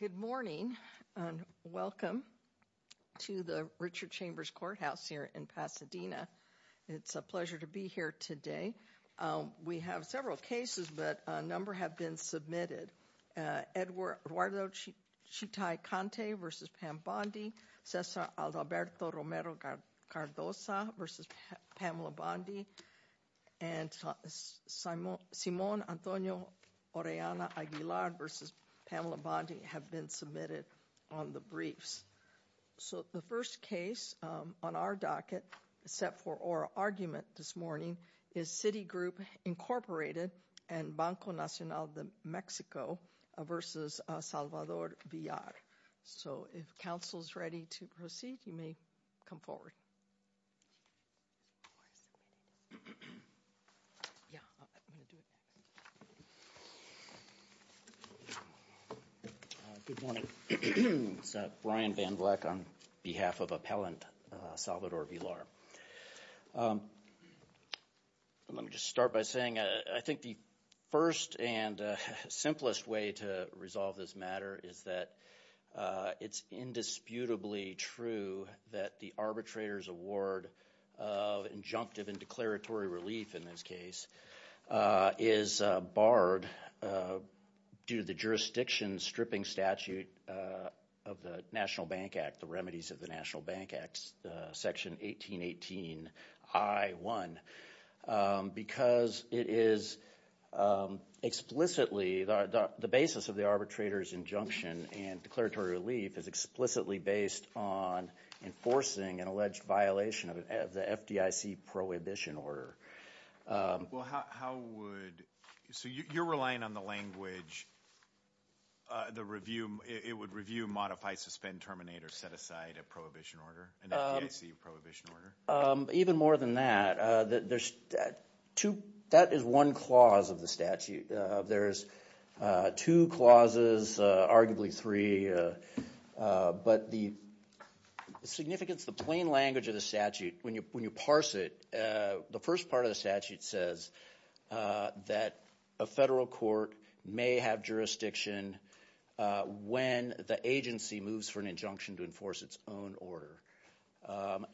Good morning. Welcome to the Richard Chambers Courthouse here in Pasadena. It's a pleasure to be here today. We have several cases, but a number have been submitted. Eduardo Chitay v. Pam Bondi, Cesar Alberto Romero Cardoza v. Pamela Bondi, and Simon Antonio Orellana Aguilar v. Pamela Bondi have been submitted on the briefs. So the first case on our docket set for oral argument this morning is CitiGroup, Inc. and Banco Nacional de Mexico v. Salvador Villar. So if counsel is ready to proceed, you may come forward. Good morning. It's Brian Van Vleck on behalf of appellant Salvador Villar. Let me just start by saying I think the first and simplest way to resolve this matter is that it's indisputably true that the arbitrator's award of injunctive and declaratory relief, in this case, is barred due to the jurisdiction stripping statute of the National Bank Act, the remedies of the National Bank Act, section 1818I1, because it is explicitly the basis of the arbitrator's injunction and declaratory relief is explicitly based on enforcing an alleged violation of the FDIC prohibition order. So you're relying on the language, it would review, modify, suspend, terminate, or set aside a prohibition order, an FDIC prohibition order? Even more than that, that is one clause of the statute. There's two clauses arguably three, but the significance, the plain language of the statute, when you when you parse it, the first part of the statute says that a federal court may have jurisdiction when the agency moves for an injunction to enforce its own order.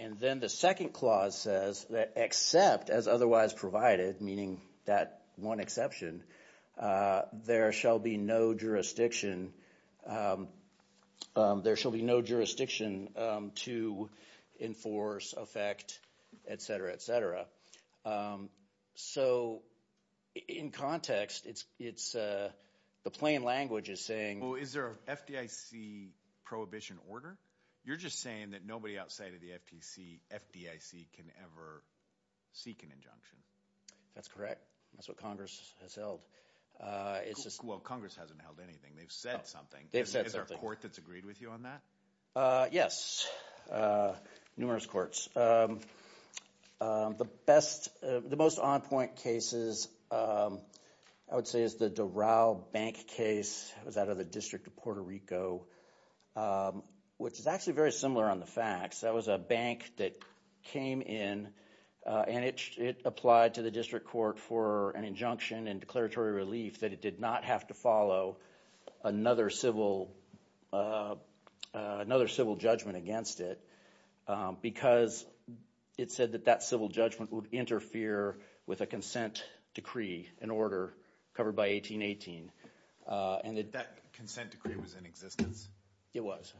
And then the second clause says that except as otherwise provided, meaning that one exception, there shall be no jurisdiction to enforce, affect, etc. etc. So in context, it's the plain language is saying, well, is there an FDIC prohibition order? You're just saying that nobody outside of the FTC, FDIC, can ever seek an injunction. That's correct. That's what Congress has held. Well, Congress hasn't held anything. They've said something. Is there a court that's agreed with you on that? Yes. Numerous courts. The best, the most on point cases, I would say, is the Doral Bank case. It was out of the District of Puerto Rico, which is actually very similar on the facts. That was a that came in and it applied to the district court for an injunction and declaratory relief that it did not have to follow another civil another civil judgment against it because it said that that civil judgment would interfere with a consent decree, an order covered by 1818. And that consent decree was in existence? It was.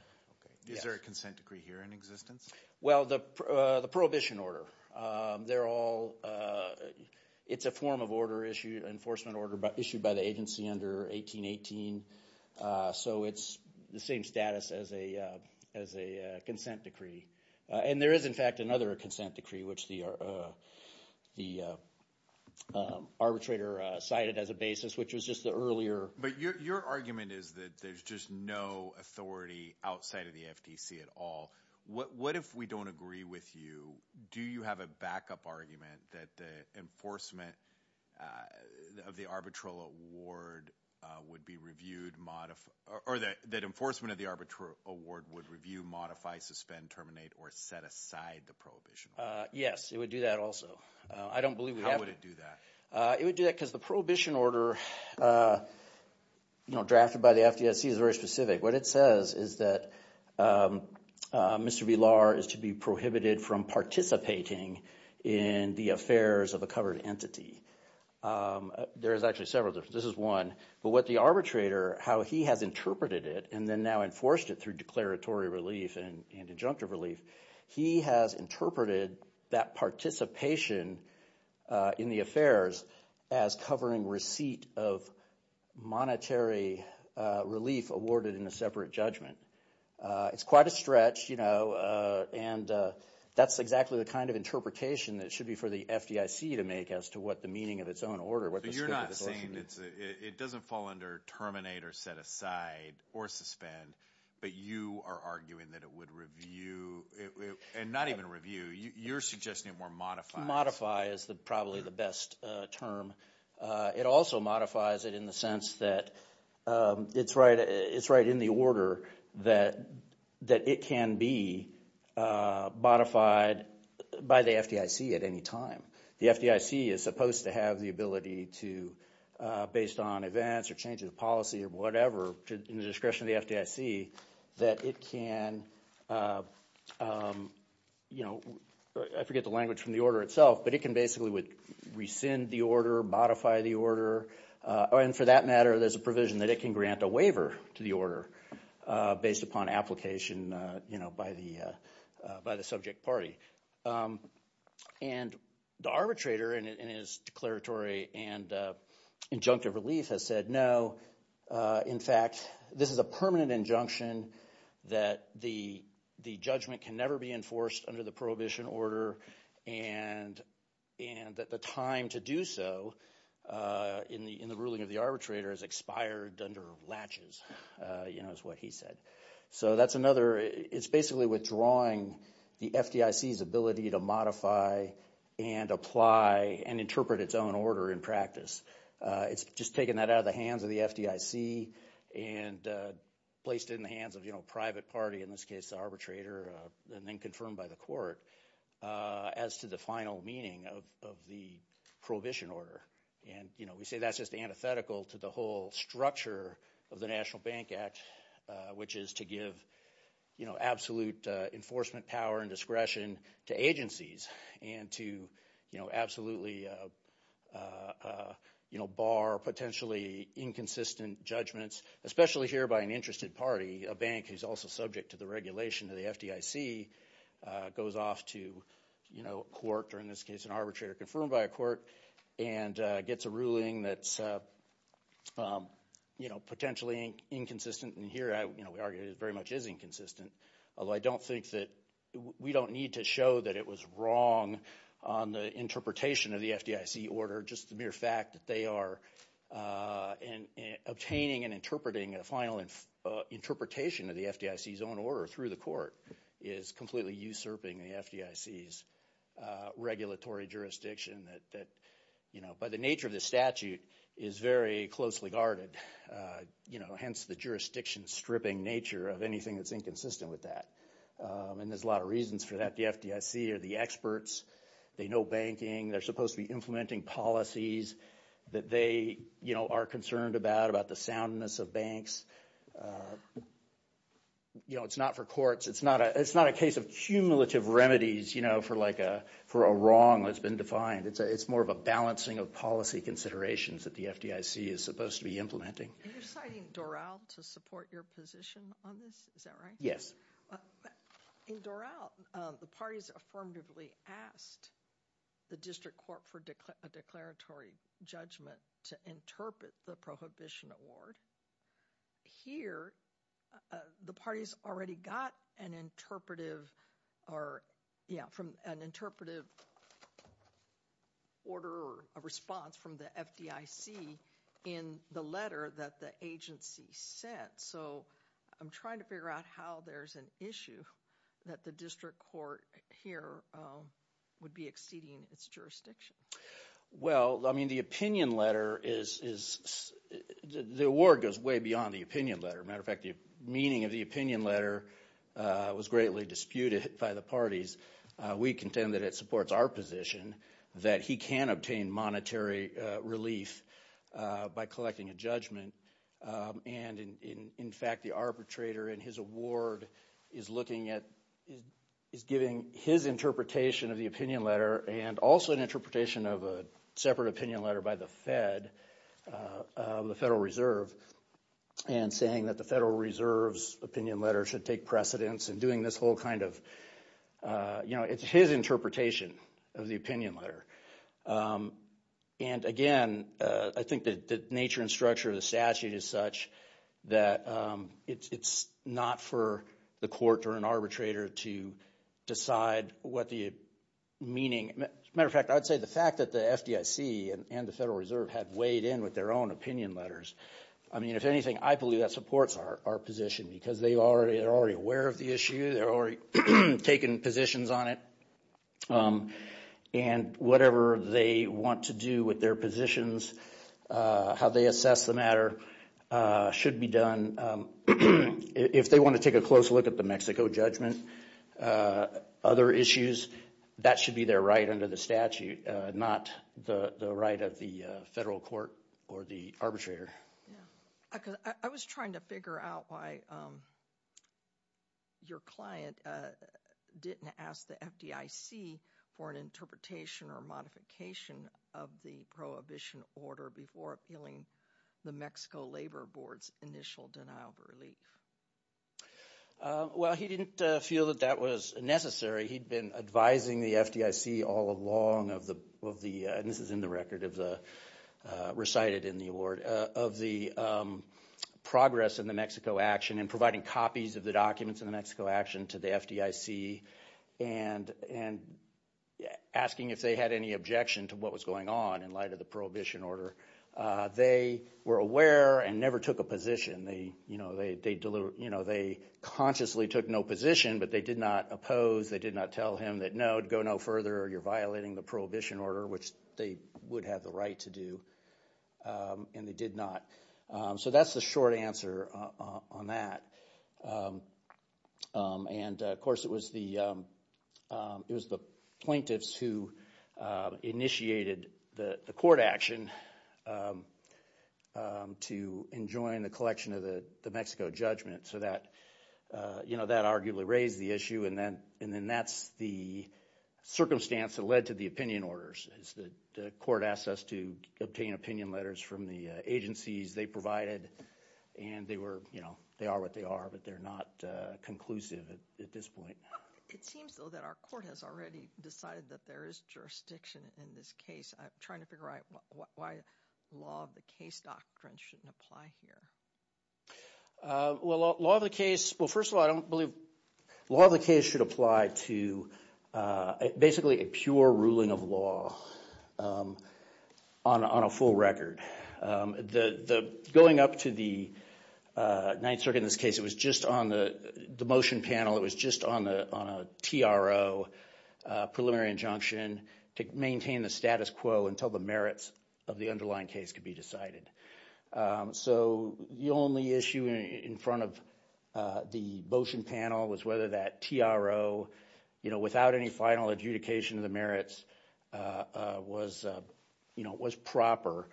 Is there a consent decree here in existence? Well, the prohibition order, they're all, it's a form of order issued, enforcement order, but issued by the agency under 1818. So it's the same status as a as a consent decree. And there is, in fact, another consent decree, which the arbitrator cited as a basis, which was just the earlier. But your argument is that there's just no authority outside of the FTC at all. What if we don't agree with you? Do you have a backup argument that the enforcement of the arbitral award would be reviewed? Or that that enforcement of the arbitral award would review, modify, suspend, terminate, or set aside the prohibition? Yes, it would do that also. I don't believe we have to do that. It would do that because the prohibition order drafted by the FTC is very specific. What it says is that Mr. Villar is to be prohibited from participating in the affairs of a covered entity. There is actually several. This is one. But what the arbitrator, how he has interpreted it, and then now enforced it through declaratory relief and injunctive relief, he has interpreted that participation in the affairs as covering receipt of monetary relief awarded in a separate judgment. It's quite a stretch, you know, and that's exactly the kind of interpretation that it should be for the FDIC to make as to what the meaning of its own order. So you're not saying it doesn't fall under terminate or set aside or suspend, but you are arguing that it would review, and not even review, you're suggesting it more modify. Modify is probably the best term. It also modifies it in the sense that it's right in the order that it can be modified by the FDIC at any time. The FDIC is supposed to have the ability to, based on events or changes of policy or whatever, in the discretion of the FDIC, that it can, you know, I forget the language from the order itself, but it can basically rescind the order, modify the order. And for that matter, there's a provision that it can grant a waiver to the order based upon application, you know, by the subject party. And the arbitrator in his declaratory and injunctive relief has said, no, in fact, this is a permanent injunction that the judgment can never be enforced under the prohibition order, and that the time to do so in the ruling of the arbitrator has expired under latches, you know, is what he said. So that's another, it's basically withdrawing the FDIC's ability to modify and apply and interpret its own order in practice. It's just taking that out of the hands of the FDIC and placed it in the hands of, you know, private party, in this case, the arbitrator, and then confirmed by the court as to the final meaning of the prohibition order. And, you know, we say that's just antithetical to the whole structure of the National Bank Act, which is to give, you know, absolute enforcement power and discretion to agencies and to, you know, absolutely you know, bar potentially inconsistent judgments, especially here by an interested party, a bank who's also subject to the regulation of the FDIC, goes off to, you know, court, or in this case, an arbitrator confirmed by a court, and gets a ruling that's, you know, potentially inconsistent. And here, you know, we argue it very much is inconsistent, although I don't think that we don't need to show that it was wrong on the interpretation of the FDIC order. Just the mere fact that they are obtaining and interpreting a final interpretation of the FDIC's order through the court is completely usurping the FDIC's regulatory jurisdiction that, you know, by the nature of the statute, is very closely guarded, you know, hence the jurisdiction stripping nature of anything that's inconsistent with that. And there's a lot of reasons for that. The FDIC are the experts. They know banking. They're supposed to be implementing policies that they, you know, are concerned about, about the soundness of banks. You know, it's not for courts. It's not a, it's not a case of cumulative remedies, you know, for like a, for a wrong that's been defined. It's more of a balancing of policy considerations that the FDIC is supposed to be implementing. Are you citing Doral to support your position on this? Is that right? Yes. Well, in Doral, the parties affirmatively asked the district court for a declaratory judgment to interpret the prohibition award. Here, the parties already got an interpretive or, you know, from an interpretive order or a response from the FDIC in the letter that the agency sent. So, I'm trying to figure out how there's an issue that the district court here would be exceeding its jurisdiction. Well, I mean, the opinion letter is, the award goes way beyond the opinion letter. Matter of fact, the meaning of the opinion letter was greatly disputed by the parties. We contend that it supports our position that he can obtain monetary relief by collecting a judgment. And in fact, the arbitrator in his award is looking at, is giving his interpretation of the opinion letter and also an interpretation of a separate opinion letter by the Fed, the Federal Reserve, and saying that the Federal Reserve's opinion letter should take precedence in doing this whole kind of, you know, it's his interpretation of the opinion letter. And again, I think that the nature and structure of the statute is such that it's not for the court or an arbitrator to decide what the meaning, matter of fact, I'd say the fact that the FDIC and the Federal Reserve had weighed in with their own opinion letters. I mean, if anything, I believe that supports our position because they're already aware of the issue. They're already taking positions on it. And whatever they want to do with their positions, how they assess the matter should be done. If they want to take a close look at the Mexico judgment, other issues, that should be their right under the statute, not the right of federal court or the arbitrator. I was trying to figure out why your client didn't ask the FDIC for an interpretation or modification of the prohibition order before appealing the Mexico Labor Board's initial denial of relief. Well, he didn't feel that that was necessary. He'd been advising the FDIC all along of the, and this is in the record, recited in the award, of the progress in the Mexico action and providing copies of the documents in the Mexico action to the FDIC and asking if they had any objection to what was going on in light of the prohibition order. They were aware and never took a position. They consciously took no position, but they did not oppose. They did not tell him that, no, go no further or you're violating the prohibition order, which they would have the right to do, and they did not. So that's the short answer on that. And of course, it was the plaintiffs who initiated the court action to enjoin the collection of the Mexico judgment. So that, you know, that arguably raised the issue and then that's the circumstance that led to the opinion orders is that the court asked us to obtain opinion letters from the agencies they provided, and they were, you know, they are what they are, but they're not conclusive at this point. It seems, though, that our court has already decided that there is jurisdiction in this case. I'm trying to figure out why law of the case doctrine shouldn't apply here. Well, law of the case, well, first of all, I don't believe law of the case should apply to basically a pure ruling of law on a full record. Going up to the ninth circuit in this case, it was just on the motion panel. It was just on a TRO preliminary injunction to maintain the status quo until the merits of the underlying case could be decided. So the only issue in front of the motion panel was whether that TRO, you know, without any final adjudication of the merits was, you know, was proper.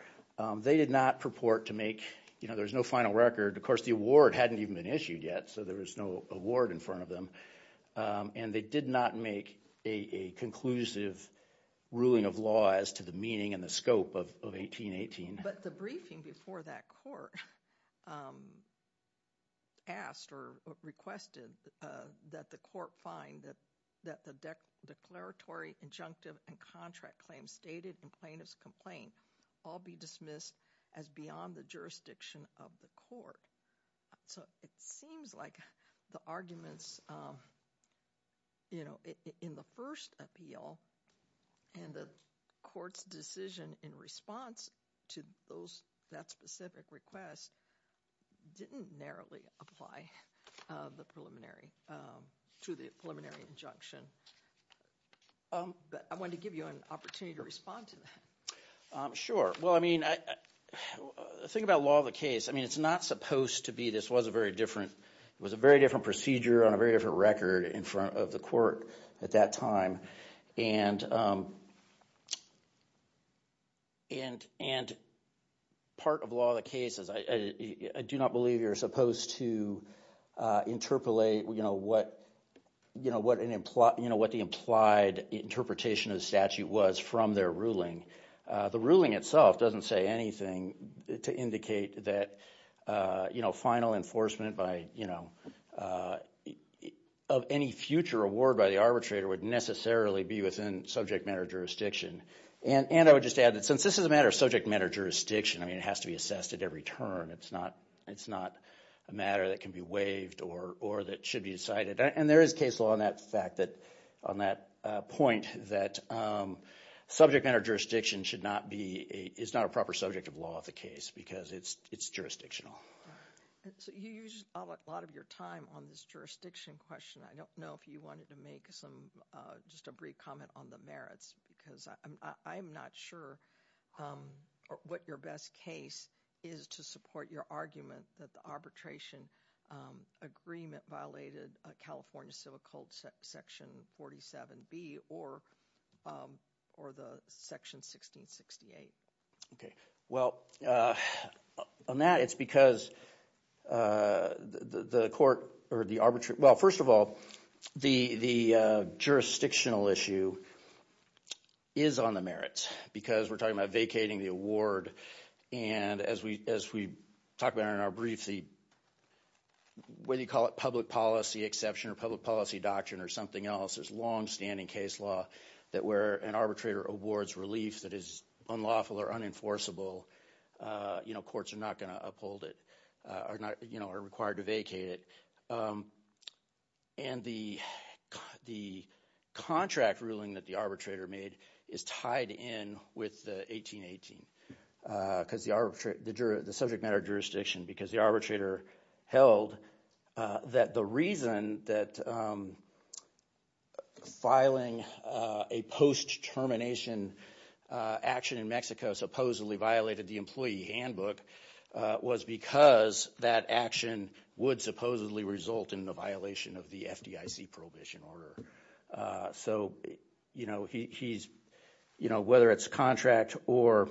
They did not purport to make, you know, there's no final record. Of course, the award hadn't even been issued yet, so there was no award in front of them. And they did not make a conclusive ruling of law as to the meaning and the scope of 1818. But the briefing before that court asked or requested that the court find that the declaratory injunctive and contract claims stated in plaintiff's complaint all be dismissed as beyond the jurisdiction of the court. So it seems like the arguments, you know, in the first appeal and the court's decision in response to that specific request didn't narrowly apply to the preliminary injunction. But I wanted to give you an opportunity to respond to that. Sure. Well, I mean, think about law of the case. I mean, it's not supposed to be, this was a very different, it was a very different procedure on a very different record in front of the court at that time. And part of law of the case is, I do not believe you're supposed to interpolate, you know, what the implied interpretation of the statute was from their ruling. The ruling itself doesn't say anything to indicate that, you know, final enforcement by, you know, of any future award by the arbitrator would necessarily be within subject matter jurisdiction. And I would just add that since this is a matter of subject matter jurisdiction, I mean, it has to be assessed at every turn. It's not a matter that can be waived or that should be decided. And there is case law on that point that subject matter jurisdiction should not be, is not a proper subject of law of the case because it's jurisdictional. So you used a lot of your time on this jurisdiction question. I don't know if you wanted to make some, just a brief comment on the merits because I'm not sure what your best case is to support your argument that the arbitration agreement violated California Civil Code section 47B or the section 1668. Okay. Well, on that, it's because the court or the arbitrator, well, first of all, the jurisdictional issue is on the merits because we're talking about vacating the award. And as we talk about in our case, whether you call it public policy exception or public policy doctrine or something else, there's longstanding case law that where an arbitrator awards relief that is unlawful or unenforceable, you know, courts are not going to uphold it or not, you know, are required to vacate it. And the contract ruling that the arbitrator made is tied in with the 1818 because the subject matter jurisdiction because the arbitrator held that the reason that filing a post-termination action in Mexico supposedly violated the employee handbook was because that action would supposedly result in the violation of the FDIC prohibition order. So, you know, he's, you know, whether it's contract or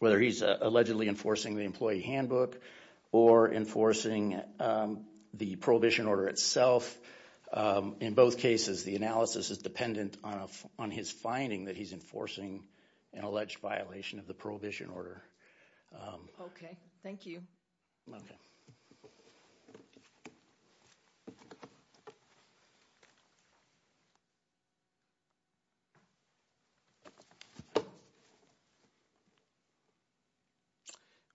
whether he's allegedly enforcing the employee handbook or enforcing the prohibition order itself, in both cases, the analysis is dependent on his finding that he's enforcing an alleged violation of the prohibition order. Okay, thank you.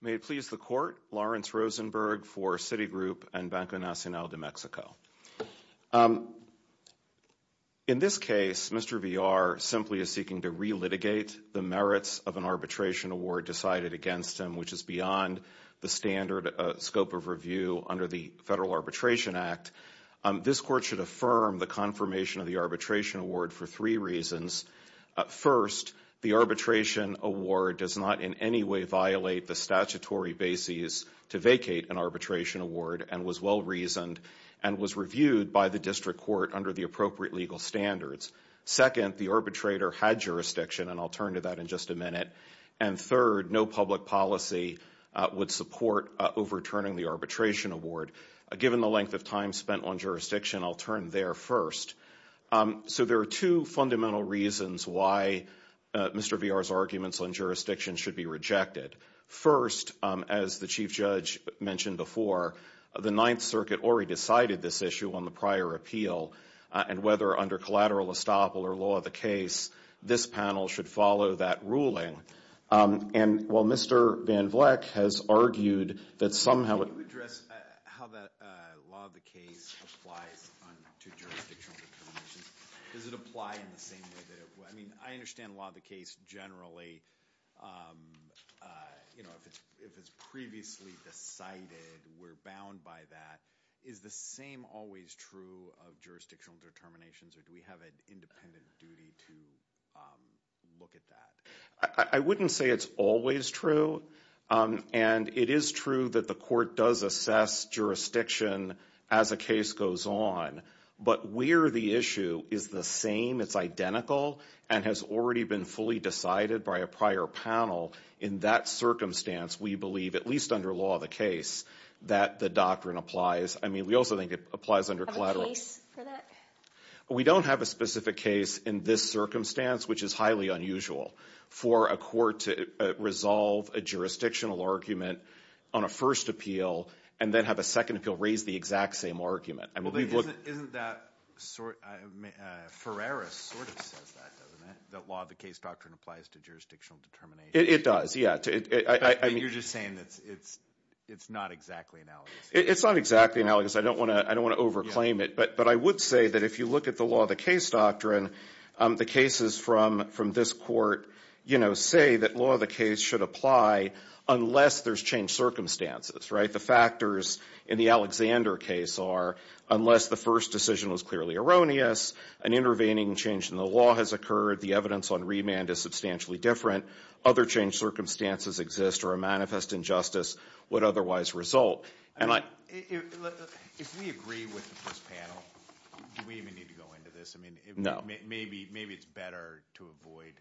May it please the court, Lawrence Rosenberg for Citigroup and Banco Nacional de Mexico. In this case, Mr. Villar simply is seeking to re-litigate the merits of an arbitration award decided against him, which is beyond the standard scope of review under the Federal Arbitration Act. This court should affirm the confirmation of the arbitration award for three reasons. First, the arbitration award does not in any way violate the statutory bases to vacate an district court under the appropriate legal standards. Second, the arbitrator had jurisdiction, and I'll turn to that in just a minute. And third, no public policy would support overturning the arbitration award. Given the length of time spent on jurisdiction, I'll turn there first. So there are two fundamental reasons why Mr. Villar's arguments on jurisdiction should be rejected. First, as the Chief Judge mentioned before, the Ninth Circuit already decided this issue on the prior appeal, and whether under collateral estoppel or law of the case, this panel should follow that ruling. And while Mr. Van Vleck has argued that somehow... Can you address how the law of the case applies to jurisdictional determinations? Does it apply in the same way that it... I mean, I understand law of the case generally. If it's previously decided, we're bound by that. Is the same always true of jurisdictional determinations, or do we have an independent duty to look at that? I wouldn't say it's always true, and it is true that the court does assess jurisdiction as a case goes on, but where the same, it's identical, and has already been fully decided by a prior panel in that circumstance, we believe, at least under law of the case, that the doctrine applies. I mean, we also think it applies under collateral. Have a case for that? We don't have a specific case in this circumstance, which is highly unusual for a court to resolve a jurisdictional argument on a first appeal, and then have a second appeal raise the exact same argument. I mean, we've looked... Isn't that... Ferreris sort of says that, doesn't it? That law of the case doctrine applies to jurisdictional determinations. It does, yeah. You're just saying that it's not exactly analogous. It's not exactly analogous. I don't want to over-claim it, but I would say that if you look at the law of the case doctrine, the cases from this court say that law of the case should apply unless there's changed circumstances, right? The factors in the Alexander case are, unless the first decision was clearly erroneous, an intervening change in the law has occurred, the evidence on remand is substantially different, other changed circumstances exist, or a manifest injustice would otherwise result. If we agree with this panel, do we even need to go into this? I mean, maybe it's better to avoid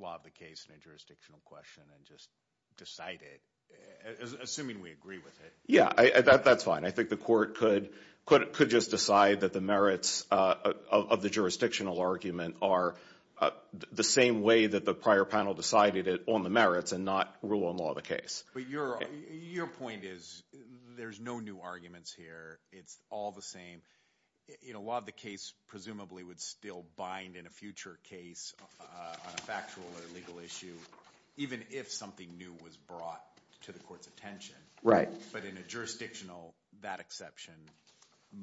law of the case in a jurisdictional question and just decide it, assuming we agree with it. Yeah, that's fine. I think the court could just decide that the merits of the jurisdictional argument are the same way that the prior panel decided it on the merits and not rule on law of the case. But your point is there's no new arguments here. It's all the same. Law of the case presumably would still bind in a future case on a factual or legal issue, even if something new was brought to the court's attention. Right. But in a jurisdictional, that exception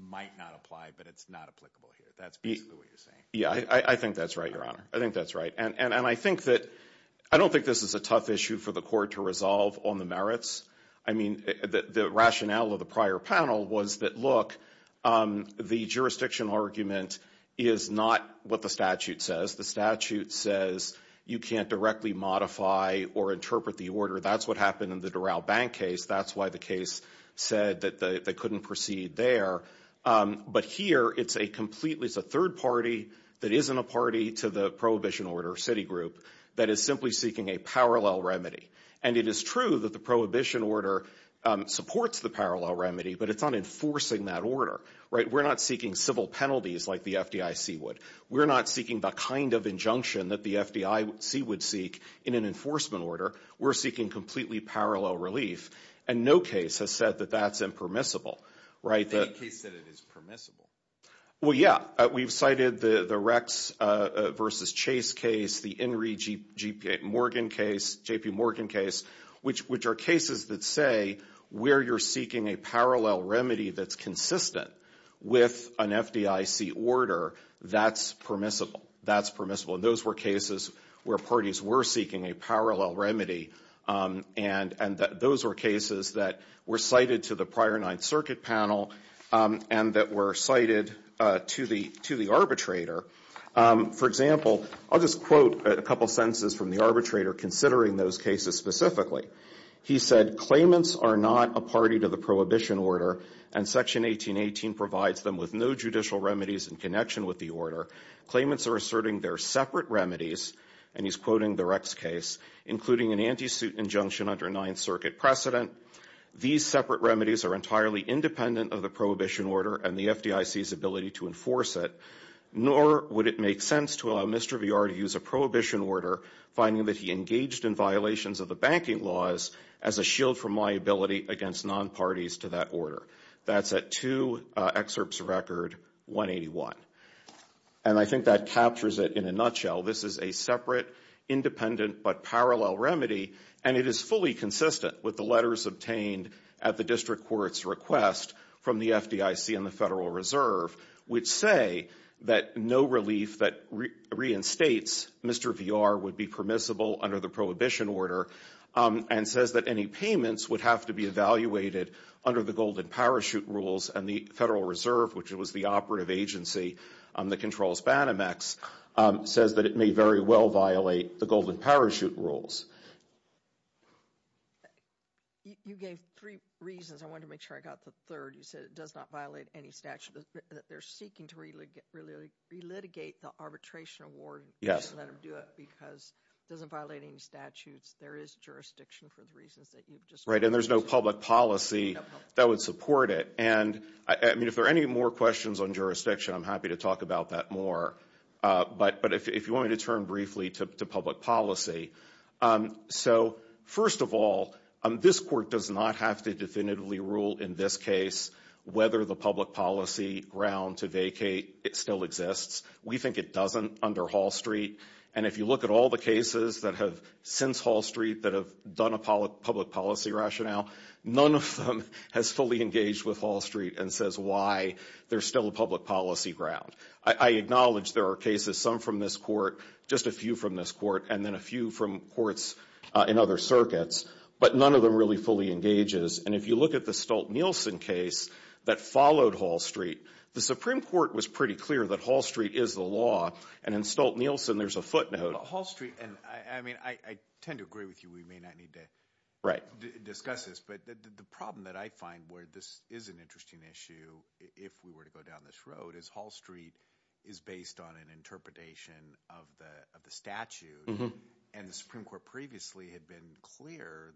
might not apply, but it's not applicable here. That's basically what you're saying. Yeah, I think that's right, your honor. I think that's right. And I think that, I don't think this is a tough issue for the court to resolve on the merits. I mean, the rationale of the prior panel was that, look, the jurisdictional argument is not what the statute says. The statute says you can't directly modify or interpret the order. That's what happened in the Doral Bank case. That's why the case said that they couldn't proceed there. But here, it's a completely, it's a third party that isn't a party to the prohibition order city group that is simply seeking a parallel remedy. And it is true that the prohibition order supports the parallel remedy, but it's on enforcing that order. Right. We're not seeking civil penalties like the FDIC would. We're not seeking the kind of injunction that the FDIC would seek in an enforcement order. We're seeking completely parallel relief. And no case has said that that's impermissible, right? I think the case said it is permissible. Well, yeah. We've cited the Rex versus Chase case, the Inree J.P. Morgan case, which are cases that say where you're seeking a parallel remedy that's consistent with an FDIC order, that's permissible. That's permissible. And those were cases where parties were seeking a parallel remedy. And those were cases that were cited to the prior Ninth Circuit panel and that were cited to the arbitrator. For example, I'll just quote a couple sentences from the arbitrator considering those cases specifically. He said, claimants are not a party to the prohibition order, and Section 1818 provides them with no judicial remedies in connection with the order. Claimants are asserting they're separate remedies, and he's quoting the Rex case, including an anti-suit injunction under Ninth Circuit precedent. These separate remedies are entirely independent of the prohibition order and the FDIC's ability to enforce it, nor would it make sense to allow Mr. Villar to use a prohibition order, finding that he engaged in violations of the banking laws, as a shield from liability against non-parties to that order. That's at 2 excerpts record 181. And I think that captures it in a nutshell. This is a separate, independent, but parallel remedy, and it is fully consistent with the letters obtained at the district court's request from the FDIC and the Federal Reserve, which say that no relief that reinstates Mr. Villar would be permissible under the prohibition order, and says that any payments would have to be evaluated under the golden parachute rules, and the Federal Reserve, which was the operative agency that controls Banamex, says that it may very well violate the golden parachute rules. You gave three reasons. I wanted to make sure I got the third. You said it does not violate any statute, that they're seeking to really re-litigate the arbitration award and let them do it because it doesn't violate any statutes. There is jurisdiction for the reasons that you've just... Right, and there's no public policy that would support it. And I mean, if there are any more questions on jurisdiction, I'm happy to talk about that more. But if you want me to turn briefly to public policy. So first of all, this court does not have to definitively rule in this case whether the public policy ground to vacate still exists. We think it doesn't under Hall Street. And if you look at all the cases that have since Hall Street that have done a public policy rationale, none of them has fully engaged with Hall Street and says why there's still a public policy ground. I acknowledge there are cases, some from this court, just a few from this court, and then a few from courts in other circuits, but none of them really fully engages. And if you look at the Stolt-Nielsen case that followed Hall Street, the Supreme Court was pretty clear that Hall Street is the law. And in Stolt-Nielsen, there's a footnote. Hall Street, and I mean, I tend to agree with you. We may not need to discuss this, but the problem that I find where this is an interesting issue, if we were to go down this road, is Hall Street is based on an interpretation of the statute. And the Supreme Court previously had been clear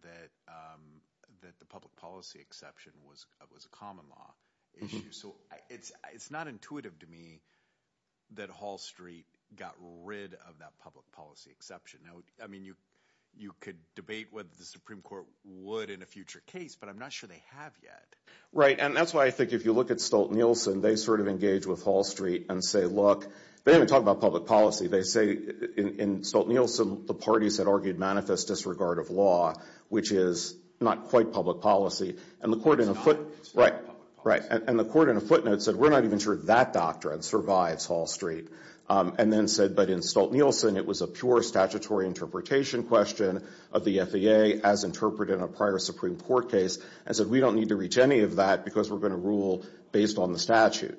that the public policy exception was a common law issue. So it's not intuitive to me that Hall Street got rid of that public policy exception. Now, I mean, you could debate whether the Supreme Court would in a future case, but I'm not sure they have yet. Right. And that's why I think if you look at Stolt-Nielsen, they sort of and say, look, they haven't talked about public policy. They say in Stolt-Nielsen, the parties that argued manifest disregard of law, which is not quite public policy. And the court in a foot, right, right. And the court in a footnote said, we're not even sure that doctrine survives Hall Street. And then said, but in Stolt-Nielsen, it was a pure statutory interpretation question of the FAA as interpreted in a prior Supreme Court case and said, we don't need to reach any of that because we're going to rule based on the statute.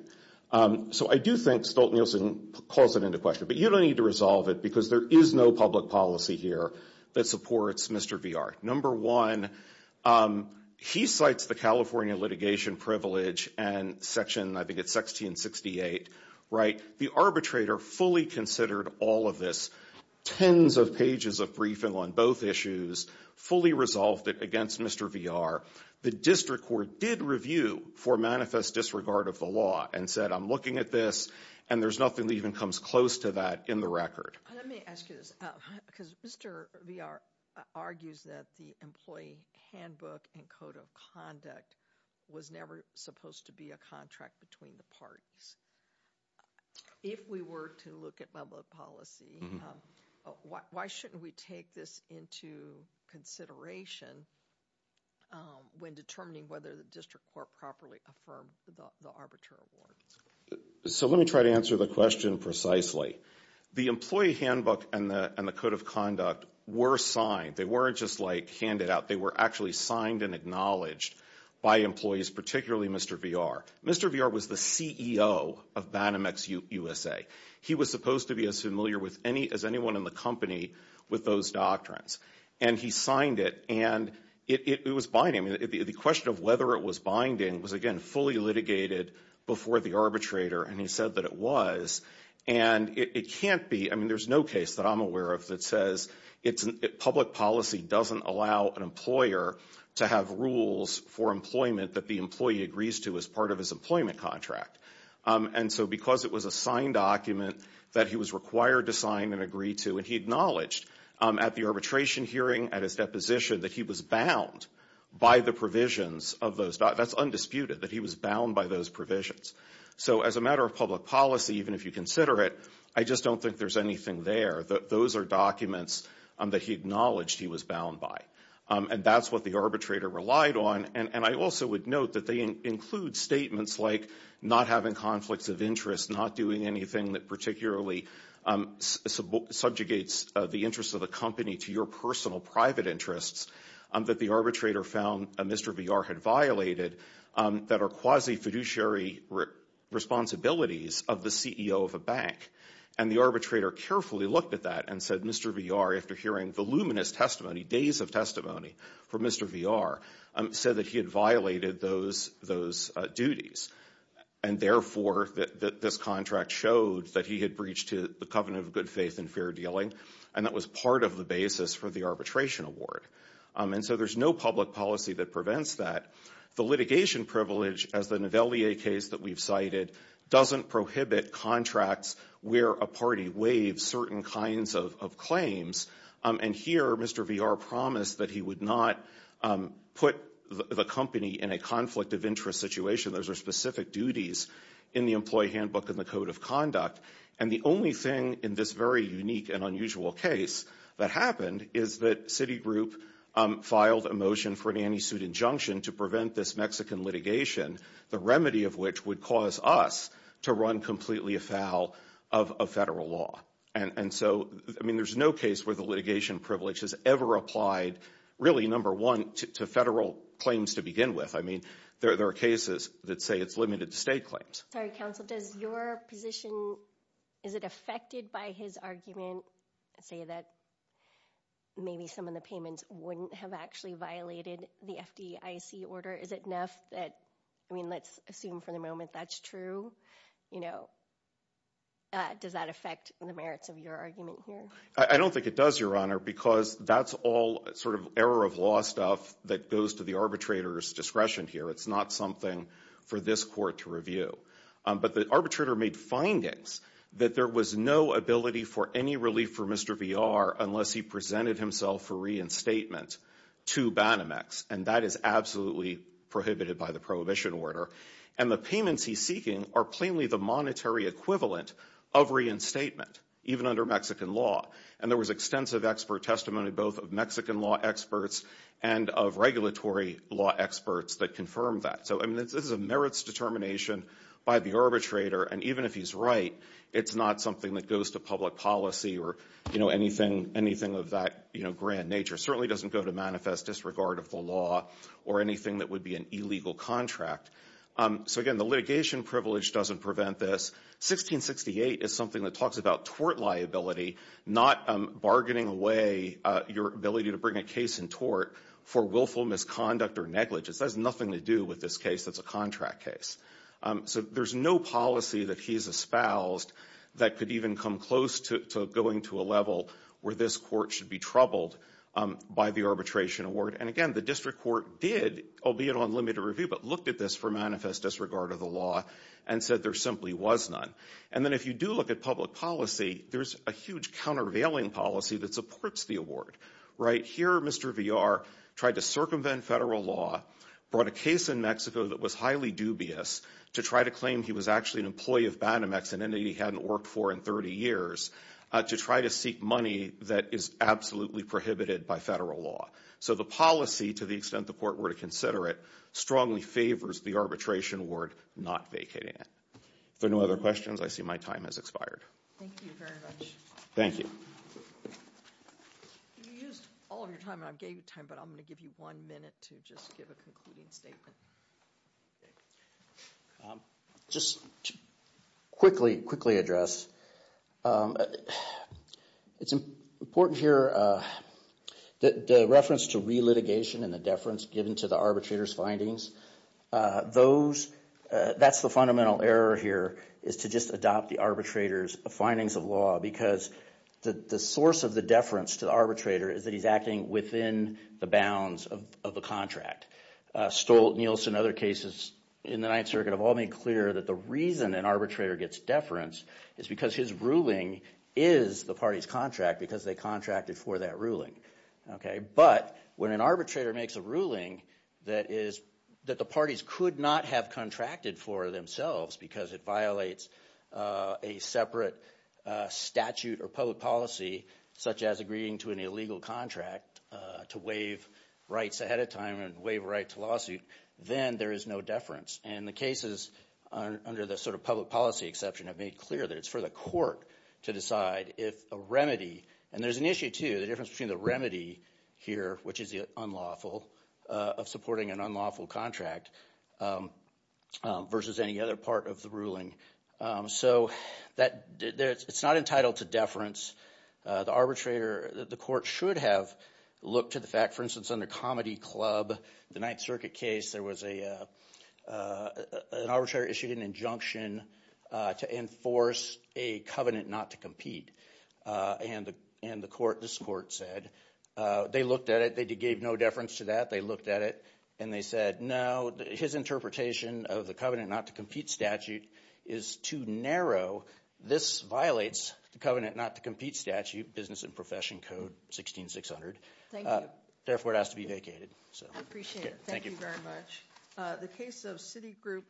So I do think Stolt-Nielsen calls it into question, but you don't need to resolve it because there is no public policy here that supports Mr. VR. Number one, he cites the California litigation privilege and section, I think it's 1668, right. The arbitrator fully considered all of this, tens of pages of briefing on both issues, fully resolved it against Mr. VR. The district court did review for manifest disregard of the law and said, I'm looking at this and there's nothing that even comes close to that in the record. Let me ask you this because Mr. VR argues that the employee handbook and code of conduct was never supposed to be a contract between the parties. If we were to look at public policy, why shouldn't we take this into consideration when determining whether the district court properly affirmed the arbiter award? So let me try to answer the question precisely. The employee handbook and the code of conduct were signed. They weren't just like handed out, they were actually signed and acknowledged by employees, particularly Mr. VR. Mr. VR was the CEO of Banamex USA. He was supposed to be as familiar as anyone in the company with those doctrines and he signed it and it was binding. The question of whether it was binding was again, fully litigated before the arbitrator and he said that it was and it can't be, I mean, there's no case that I'm aware of that says public policy doesn't allow an employer to have rules for employment that the employee agrees to as part of his employment contract. And so because it was a signed document that he was required to sign and agree to and he acknowledged at the arbitration hearing, at his deposition, that he was bound by the provisions of those, that's undisputed, that he was bound by those provisions. So as a matter of public policy, even if you consider it, I just don't think there's anything there. Those are documents that he acknowledged he was bound by and that's what the arbitrator relied on and I also would note that they include statements like not having conflicts of interest, not doing anything that particularly subjugates the interest of the company to your personal private interests that the arbitrator found Mr. VR had violated that are quasi-fiduciary responsibilities of the CEO of a bank and the arbitrator carefully looked at that and said Mr. VR, after hearing the luminous testimony, days of testimony for Mr. VR, said that he had violated those duties and therefore that this contract showed that he had breached to the covenant of good faith and fair dealing and that was part of the basis for the arbitration award. And so there's no public policy that prevents that. The litigation privilege as the Novellier case that we've cited doesn't prohibit contracts where a party waives certain kinds of claims and here Mr. VR promised that he would not put the company in a conflict of interest situation. Those are specific duties in the employee handbook in the code of conduct and the only thing in this very unique and unusual case that happened is that Citigroup filed a motion for an anti-suit injunction to prevent this Mexican litigation, the remedy of which would cause us to run completely afoul of federal law. And so I mean there's no case where the litigation privilege has ever applied really number one to federal claims to begin with. I mean there are cases that say it's limited to state claims. Sorry counsel, does your position, is it affected by his argument, say that maybe some of the payments wouldn't have actually violated the FDIC order? Is it enough that, I mean let's assume for the moment that's true, you know, does that affect the merits of your argument here? I don't think it does your honor because that's all sort of error of law stuff that goes to the arbitrator's discretion here. It's not something for this court to review. But the arbitrator made findings that there was no ability for any relief for Mr. Villar unless he presented himself for reinstatement to Banamex and that is absolutely prohibited by the prohibition order. And the payments he's seeking are plainly the monetary equivalent of reinstatement even under Mexican law. And there was extensive expert testimony both of Mexican law experts and of regulatory law experts that confirmed that. So I mean this is a merits determination by the arbitrator and even if he's right it's not something that goes to public policy or, you know, anything of that, you know, grand nature. Certainly doesn't go to manifest disregard of the law or anything that would be an illegal contract. So again, the litigation privilege doesn't prevent this. 1668 is something that talks about tort liability, not bargaining away your ability to bring a case in tort for willful misconduct or negligence. That has nothing to do with this case that's a contract case. So there's no policy that he's espoused that could even come close to going to a level where this court should be troubled by the arbitration award. And again, the district court did, albeit on limited review, but looked at this for manifest disregard of the law and said there simply was none. And then if you do look at public policy, there's a huge countervailing policy that supports the award, right? Here Mr. Villar tried to circumvent federal law, brought a case in Mexico that was highly dubious to try to claim he was actually an employee of Banamex, an entity he hadn't worked for in 30 years, to try to seek money that is absolutely prohibited by federal law. So the policy, to the extent the court were to consider it, strongly favors the arbitration award not vacating it. If there are no other questions, I see my time has expired. Thank you very much. Thank you. You used all of your time and I gave you time, but I'm going to give you one minute to just give a concluding statement. Okay. Just to quickly address, it's important here that the reference to relitigation and the deference given to the arbitrator's findings, that's the fundamental error here, is to just adopt the arbitrator's findings of law because the source of the deference to the arbitrator is that he's acting within the bounds of a contract. Stolt, Niels, and other cases in the Ninth Circuit have all made clear that the reason an arbitrator gets deference is because his ruling is the party's contract because they contracted for that ruling, okay? But when an arbitrator makes a ruling that the parties could not have contracted for themselves because it violates a separate statute or public policy, such as agreeing to an illegal contract to waive rights ahead of time and waive a right to lawsuit, then there is no deference. And the cases under the sort of public policy exception have made clear that it's for the court to decide if a remedy, and there's an issue too, the difference between the remedy here, which is the unlawful, of supporting an unlawful contract versus any other part of the ruling. So it's not entitled to deference. The arbitrator, the court should have looked to the fact, for instance, under Comedy Club, the Ninth Circuit case, there was an arbitrator issued an injunction to enforce a covenant not to compete. And the court, this court said, they looked at it, they gave no deference to that, they looked at it, and they said, no, his interpretation of the covenant not to compete statute is too narrow. This violates the covenant not to compete statute, Business and Profession Code 16600. Thank you. Therefore, it has to be vacated. I appreciate it. Thank you very much. The case of Citigroup,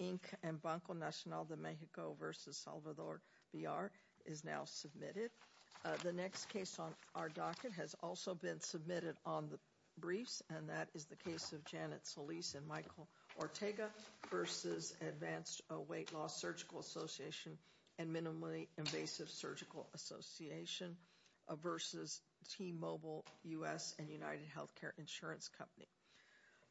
Inc. and Banco Nacional de Mexico versus Salvador Villar is now submitted. The next case on our docket has also been submitted on the briefs, and that is the case of Janet Solis and Michael Ortega versus Advanced Weight Loss Surgical Association and Minimally Invasive Surgical Association versus T-Mobile U.S. and United Healthcare Insurance Company.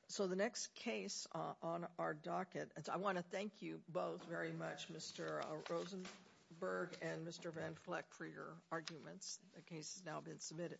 So the next case on our docket, I want to thank you both very much, Mr. Rosenberg and Mr. Van for your arguments. The case has now been submitted.